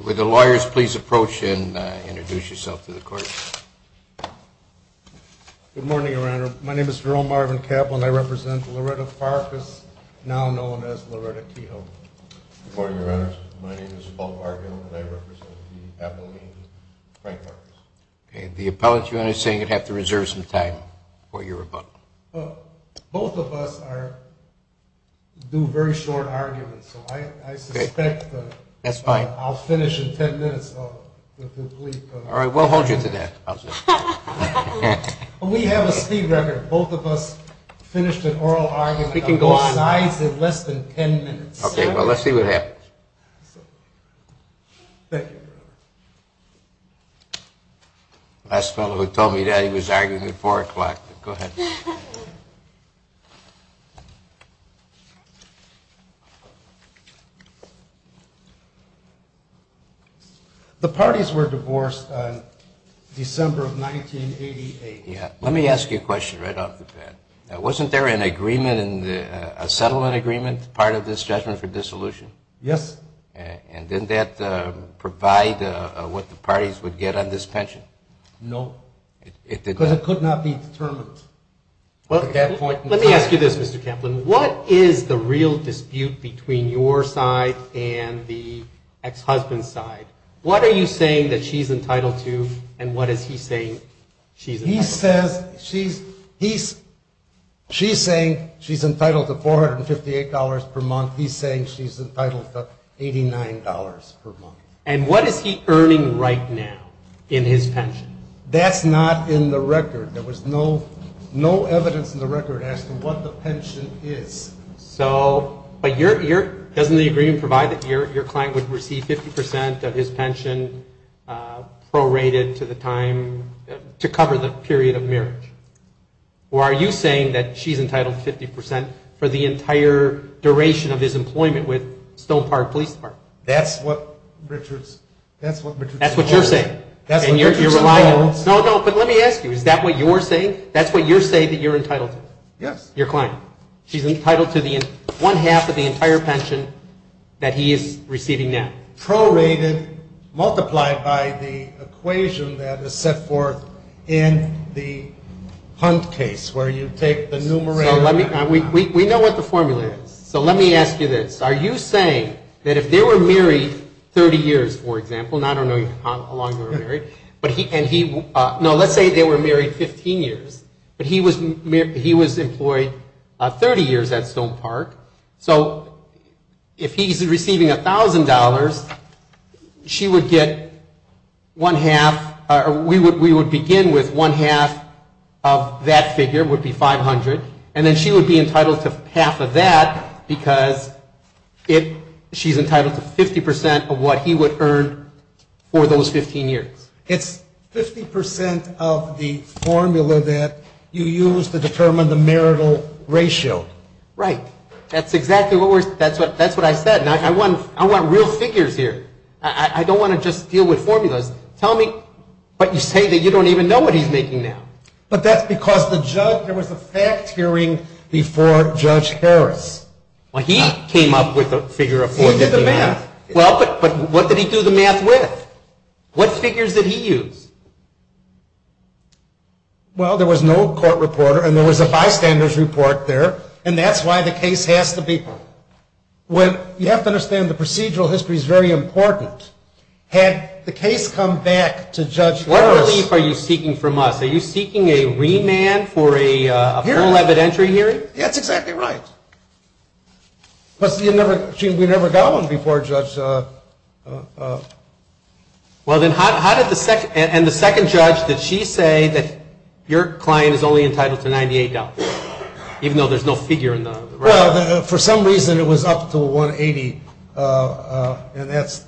With the lawyers, please approach and introduce yourself to the court. Good morning, Your Honor. My name is Jerome Marvin Kaplan. I represent Loretta Farkas, now known as Loretta Kehoe. Good morning, Your Honor. My name is Paul Parkin, and I represent the appellant Frank Farkas. The appellate, Your Honor, is saying you'd have to reserve some time before you're rebuttal. Both of us do very short arguments, so I suspect I'll finish in ten minutes. All right, we'll hold you to that. We have a speed record. Both of us finished an oral argument of both sides in less than ten minutes. Okay, well, let's see what happens. Thank you, Your Honor. Last fellow who told me that he was arguing at four o'clock. Go ahead. The parties were divorced on December of 1988. Yeah. Let me ask you a question right off the bat. Wasn't there an agreement, a settlement agreement, part of this judgment for dissolution? Yes. And didn't that provide what the parties would get on this pension? No. Because it could not be determined. Let me ask you this, Mr. Kaplan. What is the real dispute between your side and the ex-husband's side? What are you saying that she's entitled to, and what is he saying she's entitled to? He says she's saying she's entitled to $458 per month. He's saying she's entitled to $89 per month. And what is he earning right now in his pension? That's not in the record. There was no evidence in the record asking what the pension is. So doesn't the agreement provide that your client would receive 50% of his pension prorated to the time, to cover the period of marriage? Or are you saying that she's entitled to 50% for the entire duration of his employment with Stone Park Police Department? That's what Richards told us. That's what you're saying. That's what Richards told us. No, no, but let me ask you. Is that what you're saying? That's what you're saying that you're entitled to? Yes. Your client. She's entitled to one half of the entire pension that he is receiving now. Prorated multiplied by the equation that is set forth in the Hunt case where you take the numeral. We know what the formula is. So let me ask you this. Are you saying that if they were married 30 years, for example, and I don't know how long they were married. No, let's say they were married 15 years. But he was employed 30 years at Stone Park. So if he's receiving $1,000, she would get one half. We would begin with one half of that figure would be 500. And then she would be entitled to half of that because she's entitled to 50% of what he would earn for those 15 years. It's 50% of the formula that you use to determine the marital ratio. Right. That's exactly what I said. And I want real figures here. I don't want to just deal with formulas. Tell me what you say that you don't even know what he's making now. But that's because there was a fact hearing before Judge Harris. Well, he came up with a figure. He did the math. Well, but what did he do the math with? What figures did he use? Well, there was no court reporter and there was a bystander's report there. And that's why the case has to be. You have to understand the procedural history is very important. Had the case come back to Judge Harris. What relief are you seeking from us? Are you seeking a remand for a full evidentiary hearing? That's exactly right. But we never got one before Judge. Well, then how did the second and the second judge, did she say that your client is only entitled to $98, even though there's no figure in the. For some reason, it was up to 180 and that's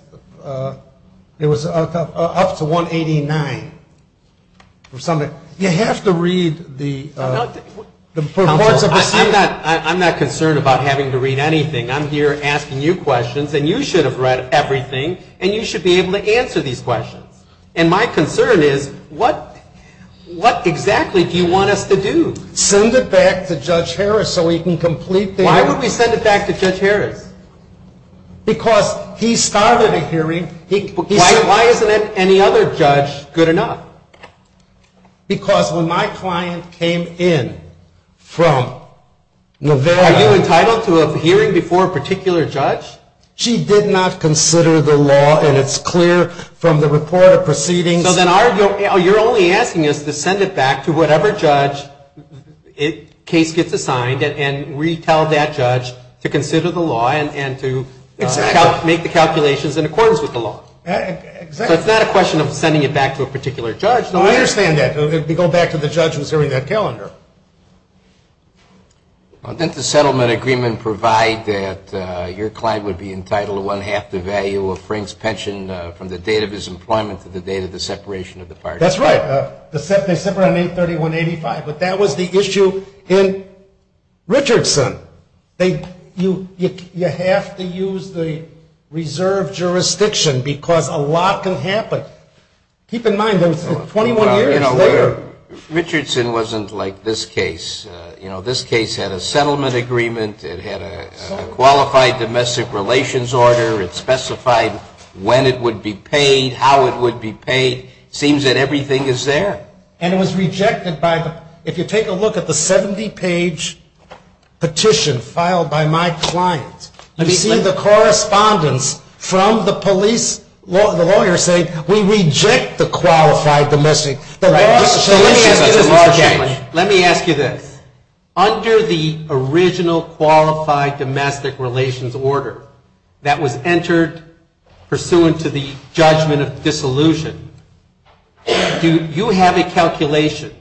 it was up to 189 or something. You have to read the reports. I'm not concerned about having to read anything. I'm here asking you questions and you should have read everything and you should be able to answer these questions. And my concern is what exactly do you want us to do? Send it back to Judge Harris so we can complete. Why would we send it back to Judge Harris? Because he started a hearing. Why isn't it any other judge good enough? Because when my client came in from Nevada. Are you entitled to a hearing before a particular judge? She did not consider the law and it's clear from the report of proceedings. So then you're only asking us to send it back to whatever judge case gets assigned and retell that judge to consider the law and to make the calculations in accordance with the law. So it's not a question of sending it back to a particular judge. Didn't the settlement agreement provide that your client would be exempt from the separation of the parties? That's right. But that was the issue in Richardson. You have to use the reserve jurisdiction because a lot can happen. Keep in mind 21 years later. Richardson wasn't like this case. This case had a settlement agreement. It had a settlement agreement. It had a settlement agreement. It was a settlement agreement. It was a settlement agreement. It was a settlement agreement. And it was rejected by the, if you take a look at the 70 page petition filed by my client. You see the correspondence from the police lawyer saying we reject the qualified domestic. Let me ask you this. Under the original qualified domestic relations order that was entered pursuant to the judgment of dissolution, do you have a calculation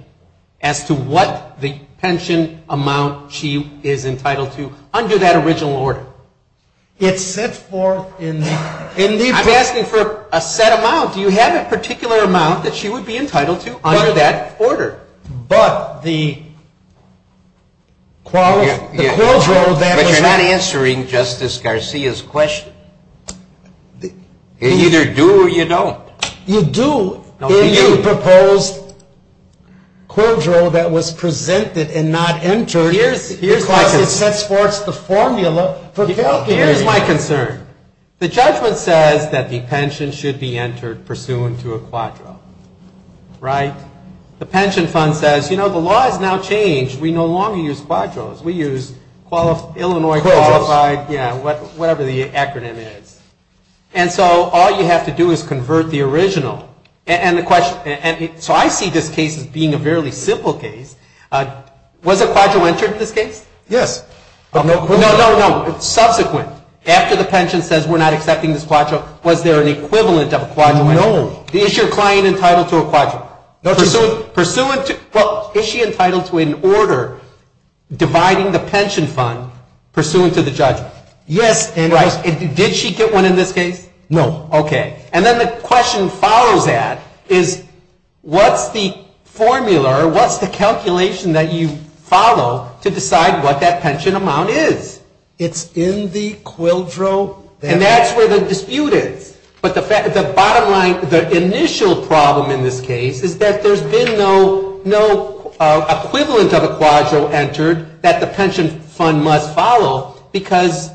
as to what the pension amount she is entitled to under that original order? It's set forth in the. I'm asking for a set amount. Do you have a particular amount that she would be entitled to under that order? But the. But you're not answering Justice Garcia's question. You either do or you don't. You do if you propose a quadro that was presented and not entered. Here's my concern. The judgment says that the pension should be entered pursuant to a quadro, right? The pension fund says, you know, the law has now changed. We no longer use quadros. We use Illinois quadros. And so all you have to do is convert the original. So I see this case as being a fairly simple case. Was a quadro entered in this case? Yes. No, no, no. Subsequent. After the pension says we're not accepting this quadro, was there an equivalent of a quadro? No. Is your client entitled to a quadro? Well, is she entitled to an order dividing the pension fund pursuant to the judgment? Yes. Did she get one in this case? No. Okay. And then the question follows that is what's the formula or what's the calculation that you follow to decide what that pension amount is? It's in the quadro. And that's where the dispute is. But the bottom line, the initial problem in this case is that there's been no equivalent of a quadro entered that the pension fund must follow because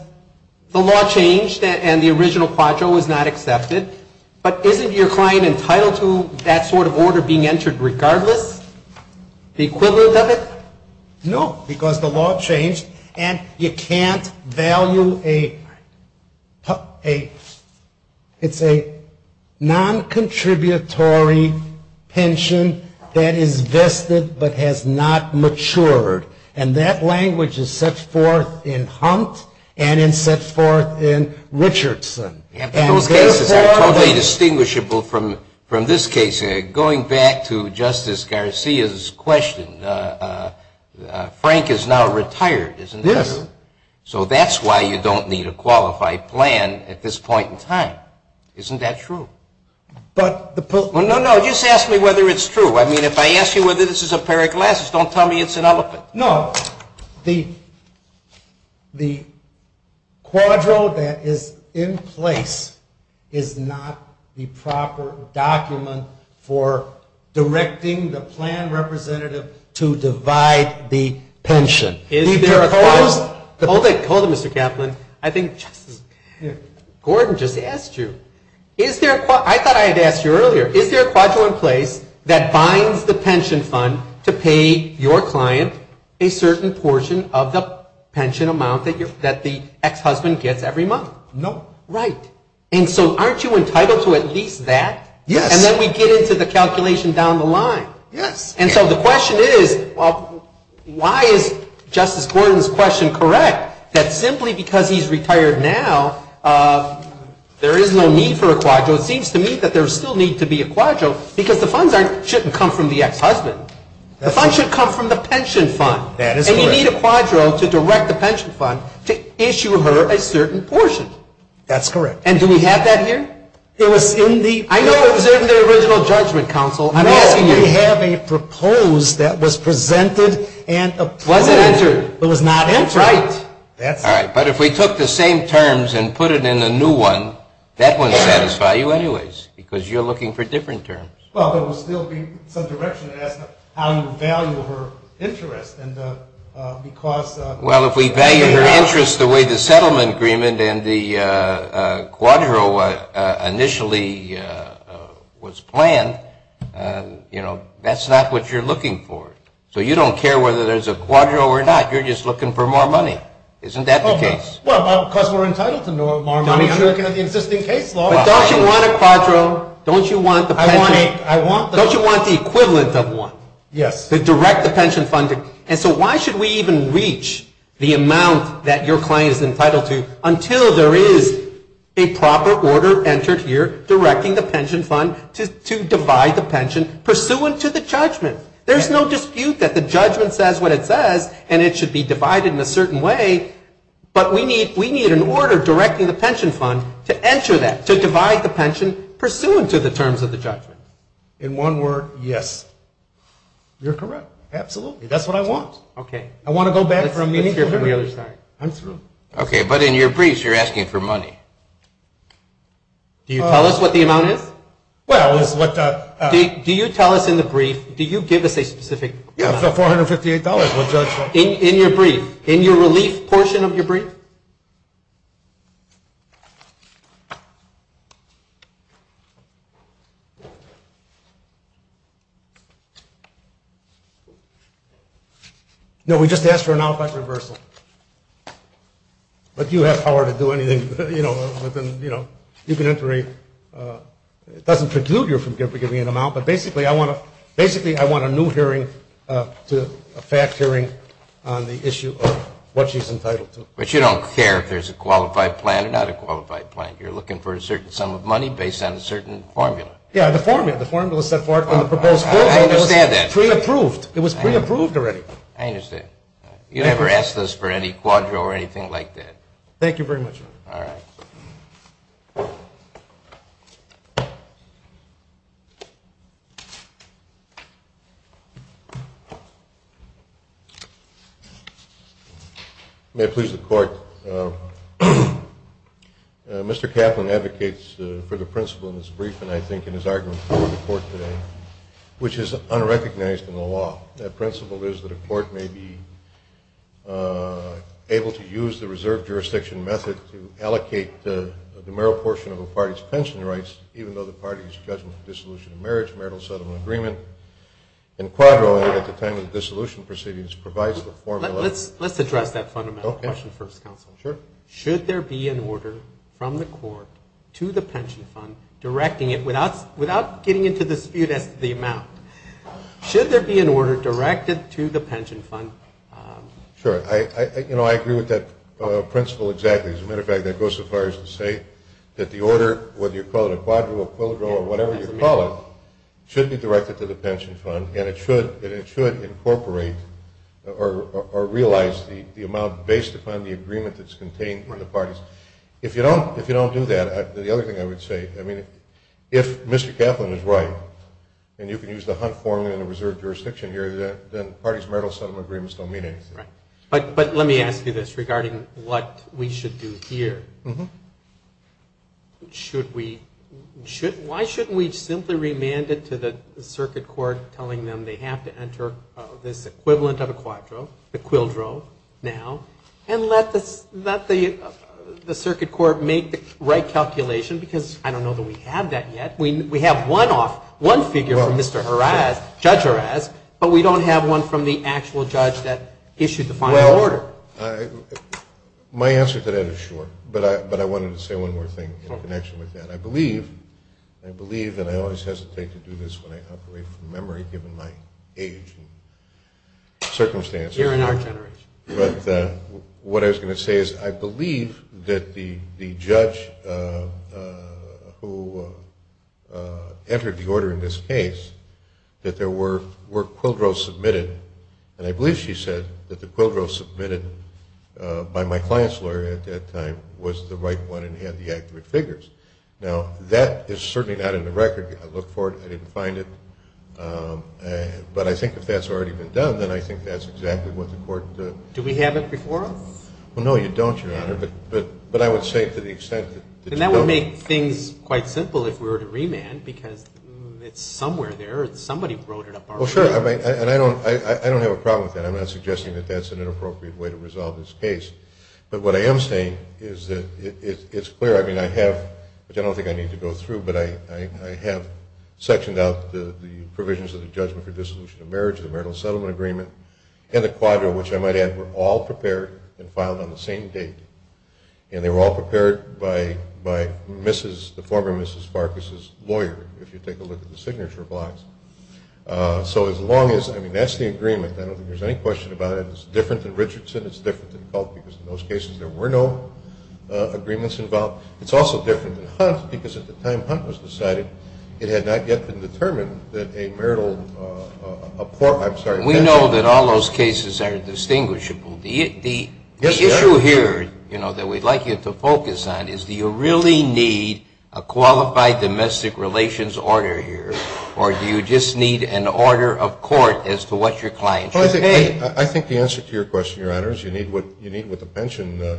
the law changed and the original quadro was not accepted. But isn't your client entitled to that sort of order being entered regardless? The equivalent of it? No, because the law changed and you it's a non-contributory pension that is vested but has not matured. And that language is set forth in Hunt and it's set forth in Richardson. Those cases are totally distinguishable from this case. Going back to Justice Garcia's question, Frank is now retired, isn't he? Yes. So that's why you don't need a qualified plan at this point in time. Isn't that true? No, no. Just ask me whether it's true. I mean, if I ask you whether this is a pair of glasses, don't tell me it's an elephant. No. The quadro that is in place is not the proper document for directing the plan representative to divide the pension. Hold it, Mr. Kaplan. I think Gordon just asked you. I thought I had asked you earlier. Is there a quadro in place that binds the pension fund to pay your client a certain portion of the pension amount that the ex-husband gets every month? No. Right. And so the question is, why is Justice Gordon's question correct? That simply because he's retired now, there is no need for a quadro. It seems to me that there still needs to be a quadro because the funds shouldn't come from the ex-husband. The funds should come from the pension fund. That is correct. And you need a quadro to direct the pension fund to issue her a certain portion. That's correct. And do we have that here? I know it was in the original judgment council. I'm asking you. No, we have a proposed that was presented and approved. Was it entered? It was not entered. Right. But if we took the same terms and put it in a new one, that wouldn't satisfy you anyways because you're looking for different terms. Well, there would still be some direction as to how you would value her interest. Well, if we value her interest the way the settlement agreement and the quadro initially was planned, that's not what you're looking for. So you don't care whether there's a quadro or not. You're just looking for more money. Isn't that the case? Well, because we're entitled to more money. We're looking at the existing caseload. But don't you want a quadro? Don't you want the equivalent of one to direct the pension fund? And so why should we even reach the amount that your client is entitled to until there is a proper order entered here directing the pension fund to divide the pension pursuant to the judgment? There's no dispute that the judgment says what it says, and it should be divided in a certain way. But we need an order directing the pension fund to enter that, to divide the pension pursuant to the terms of the judgment. In one word, yes. You're correct. Absolutely. That's what I want. Okay. I want to go back from meeting here. Let's hear from the other side. I'm through. Okay. But in your briefs, you're asking for money. Do you tell us what the amount is? Well, it's what the... Do you tell us in the brief, do you give us a specific... Yes, the $458 we'll judge for. In your brief, in your relief portion of your brief? No, we just asked for an outback reversal. But you have power to do anything, you know, but then, you know, you can enter a... It doesn't preclude you from giving an amount, but basically I want a new hearing to a fact hearing on the issue of what she's entitled to. But you don't care if there's a qualified plan or not a qualified plan. You're looking for a certain sum of money based on a certain formula. Yeah, the formula. The formula set forth on the proposed formula was pre-approved. It was pre-approved already. I understand. You never asked us for any quadro or anything like that. Thank you very much. All right. May it please the court. Mr. Kaplan advocates for the principle in his brief and I think in his argument before the court today, which is unrecognized in the law. The principle is that a court may be able to use the reserve jurisdiction method to allocate the mere portion of a party's pension rights, even though the party is judged for dissolution of marriage, marital settlement agreement, and quadro at the time of the dissolution proceedings provides the formula... Let's address that fundamental question first, counsel. Sure. Should there be an order from the court to the pension fund directing it without getting into the dispute as to the amount. Should there be an order directed to the pension fund... Sure. I agree with that principle exactly. As a matter of fact, that goes so far as to say that the order, whether you call it a quadro, a quadro, or whatever you call it, should be directed to the pension fund and it should incorporate or realize the amount based upon the agreement that's contained in the parties. If you don't do that, the other thing I would say, I mean, if Mr. Kaplan is right and you can use the Hunt formula in a reserve jurisdiction here, then parties' marital settlement agreements don't mean anything. Right. But let me ask you this regarding what we should do here. Should we... Why shouldn't we simply remand it to the circuit court telling them they have to enter this equivalent of a quadro, a quildro, now and let the circuit court make the right calculation because I don't know that we have that yet. We have one figure from Mr. Haraz, Judge Haraz, but we don't have one from the actual judge that issued the final order. Well, my answer to that is sure, but I wanted to say one more thing in connection with that. I believe, and I always hesitate to do this when I operate from memory given my age and circumstances. You're in our generation. But what I was going to say is I believe that the judge who entered the order in this case, that there were quildros submitted, and I believe she said that the quildro submitted by my client's lawyer at that time was the right one and had the accurate figures. Now, that is certainly not in the record. I looked for it. I didn't find it. But I think if that's already been done, then I think that's exactly what the court... Well, no, you don't, Your Honor. But I would say to the extent that... And that would make things quite simple if we were to remand because it's somewhere there. Somebody wrote it up already. I'm not suggesting that that's an inappropriate way to resolve this case. But what I am saying is that it's clear. I mean, I have, which I don't think I need to go through, but I have sectioned out the provisions of the judgment for dissolution of marriage, the marital settlement agreement, and the quildro, which I might add were all prepared and filed on the same date. And they were all prepared by the former Mrs. Farkas's lawyer, if you take a look at the signature blocks. So as long as... I mean, that's the agreement. I don't think there's any question about it. It's different than Richardson. It's different than Culp because in those cases there were no agreements involved. It's also different than Hunt because at the time Hunt was decided, it had not yet been determined that a marital... We know that all those cases are distinguishable. The issue here, you know, that we'd like you to focus on is do you really need a qualified domestic relations order here or do you just need an order of court as to what your client should pay? I think the answer to your question, Your Honor, is you need what the pension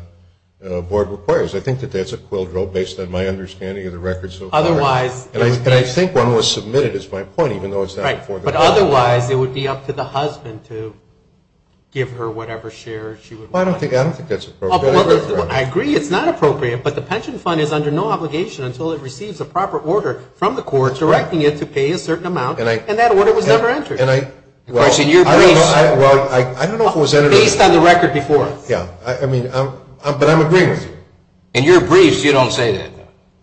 board requires. I think that that's a quildro based on my understanding of the record so far. And I think one was submitted is my point, even though it's not before the court. But otherwise it would be up to the husband to give her whatever share she would want. I don't think that's appropriate. I agree it's not appropriate, but the pension fund is under no obligation until it receives a proper order from the court directing it to pay a certain amount and that order was never entered. Based on the record before. But I'm agreeing with you. In your briefs you don't say that.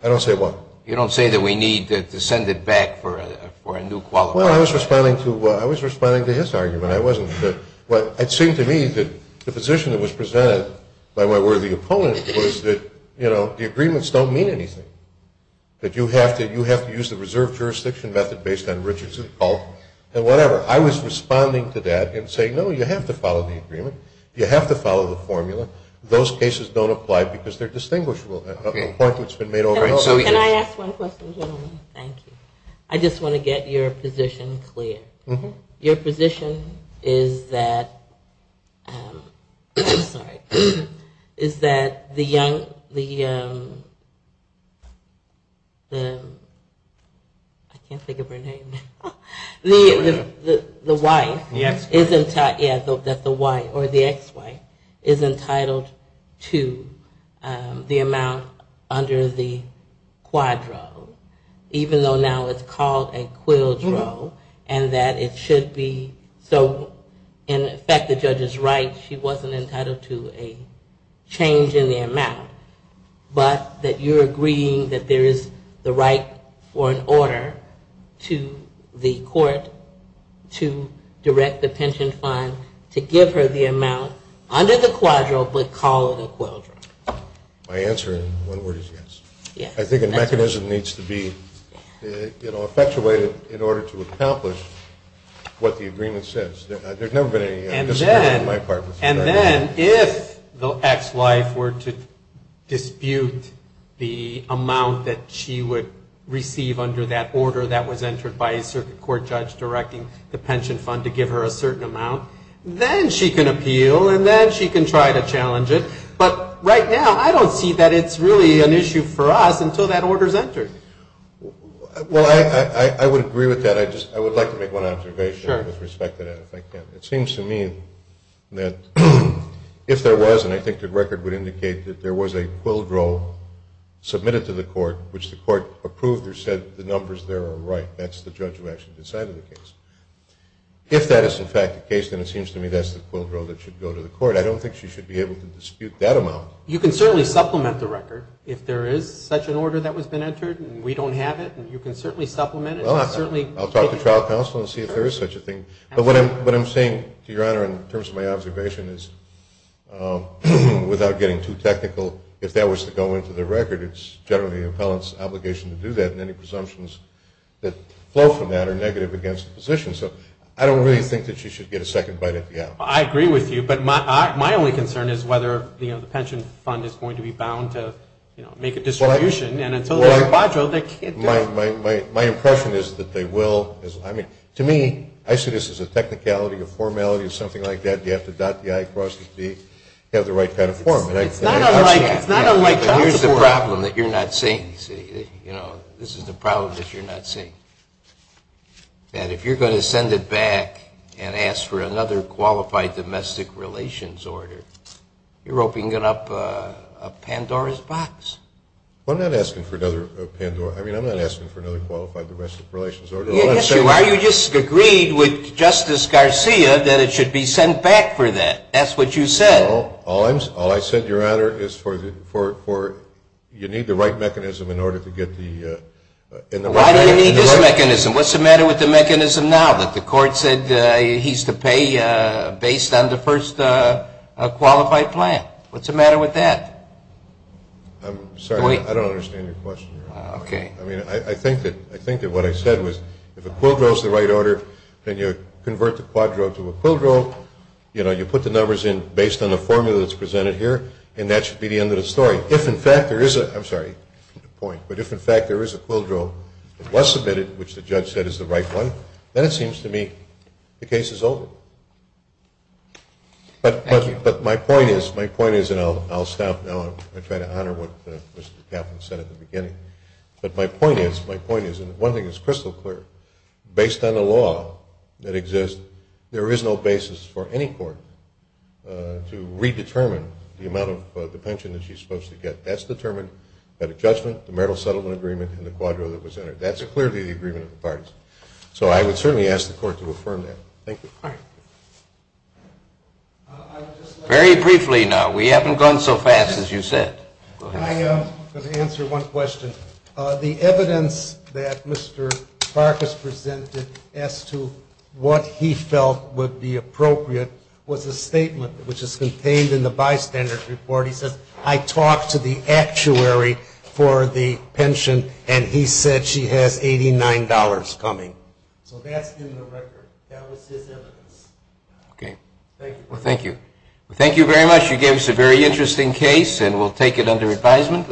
I don't say what? You don't say that we need to send it back for a new qualified. Well, I was responding to his argument. It seemed to me that the position that was presented by my worthy opponent was that the agreements don't mean anything. That you have to use the reserve jurisdiction method based on Richardson's fault and whatever. I was responding to that and saying, no, you have to follow the agreement. You have to follow the formula. Those cases don't apply because they're distinguishable. Can I ask one question? I just want to get your position clear. Your position is that the young I can't think of her name. The wife. Or the ex-wife is entitled to the amount under the quadro, even though now it's called a quildro. And that it should be, so in effect the judge is right. She wasn't entitled to a change in the amount. But that you're agreeing that there is the right for an order to the court to direct the pension fund to give her the amount under the quadro but call it a quildro. My answer in one word is yes. I think a mechanism needs to be effectuated in order to accomplish what the agreement says. And then if the ex-wife were to dispute the amount that she would receive under that order that was entered by a circuit court judge directing the pension fund to give her a certain amount, then she can appeal and then she can try to challenge it. But right now I don't see that it's really an issue for us until that order is entered. Well, I would agree with that. I would like to make one observation. It seems to me that if there was, and I think the record would indicate that there was a quildro submitted to the court which the court approved or said the numbers there are right, that's the judge who actually decided the case. If that is in fact the case, then it seems to me that's the quildro that should go to the court. I don't think she should be able to dispute that amount. You can certainly supplement the record if there is such an order that has been entered and we don't have it. I'll talk to trial counsel and see if there is such a thing. But what I'm saying to Your Honor in terms of my observation is without getting too technical, if that was to go into the record, it's generally the appellant's obligation to do that and any presumptions that flow from that are negative against the position. So I don't really think that she should get a second bite at the apple. I agree with you, but my only concern is whether the pension fund is going to be bound to make a distribution. My impression is that they will. To me, I see this as a technicality, a formality or something like that. You have to have the right kind of form. Here's the problem that you're not seeing. If you're going to send it back and ask for another qualified domestic relations order, you're opening up a Pandora's box. Yes, Your Honor, you just agreed with Justice Garcia that it should be sent back for that. That's what you said. No, all I said, Your Honor, is you need the right mechanism in order to get the... Why do you need this mechanism? What's the matter with the mechanism now that the court said he's to pay based on the first qualified plan? What's the matter with that? I think that what I said was if a quidro is the right order, then you convert the quadro to a quidro. You put the numbers in based on the formula that's presented here, and that should be the end of the story. If, in fact, there is a quidro that was submitted, which the judge said is the right one, then it seems to me the case is over. But my point is, and I'll stop now. I try to honor what Mr. Kaplan said at the beginning. But my point is, and one thing is crystal clear, based on the law that exists, there is no basis for any court to redetermine the amount of the pension that she's supposed to get. That's determined at a judgment, the marital settlement agreement, and the quidro that was entered. That's clearly the agreement of the parties. So I would certainly ask the court to affirm that. Thank you. Very briefly now. We haven't gone so fast as you said. I'm going to answer one question. The evidence that Mr. Farkas presented as to what he felt would be appropriate was a statement which is contained in the bystander's report. He says, I talked to the actuary for the pension, and he said she has $89 coming. So that's in the record. That was his evidence.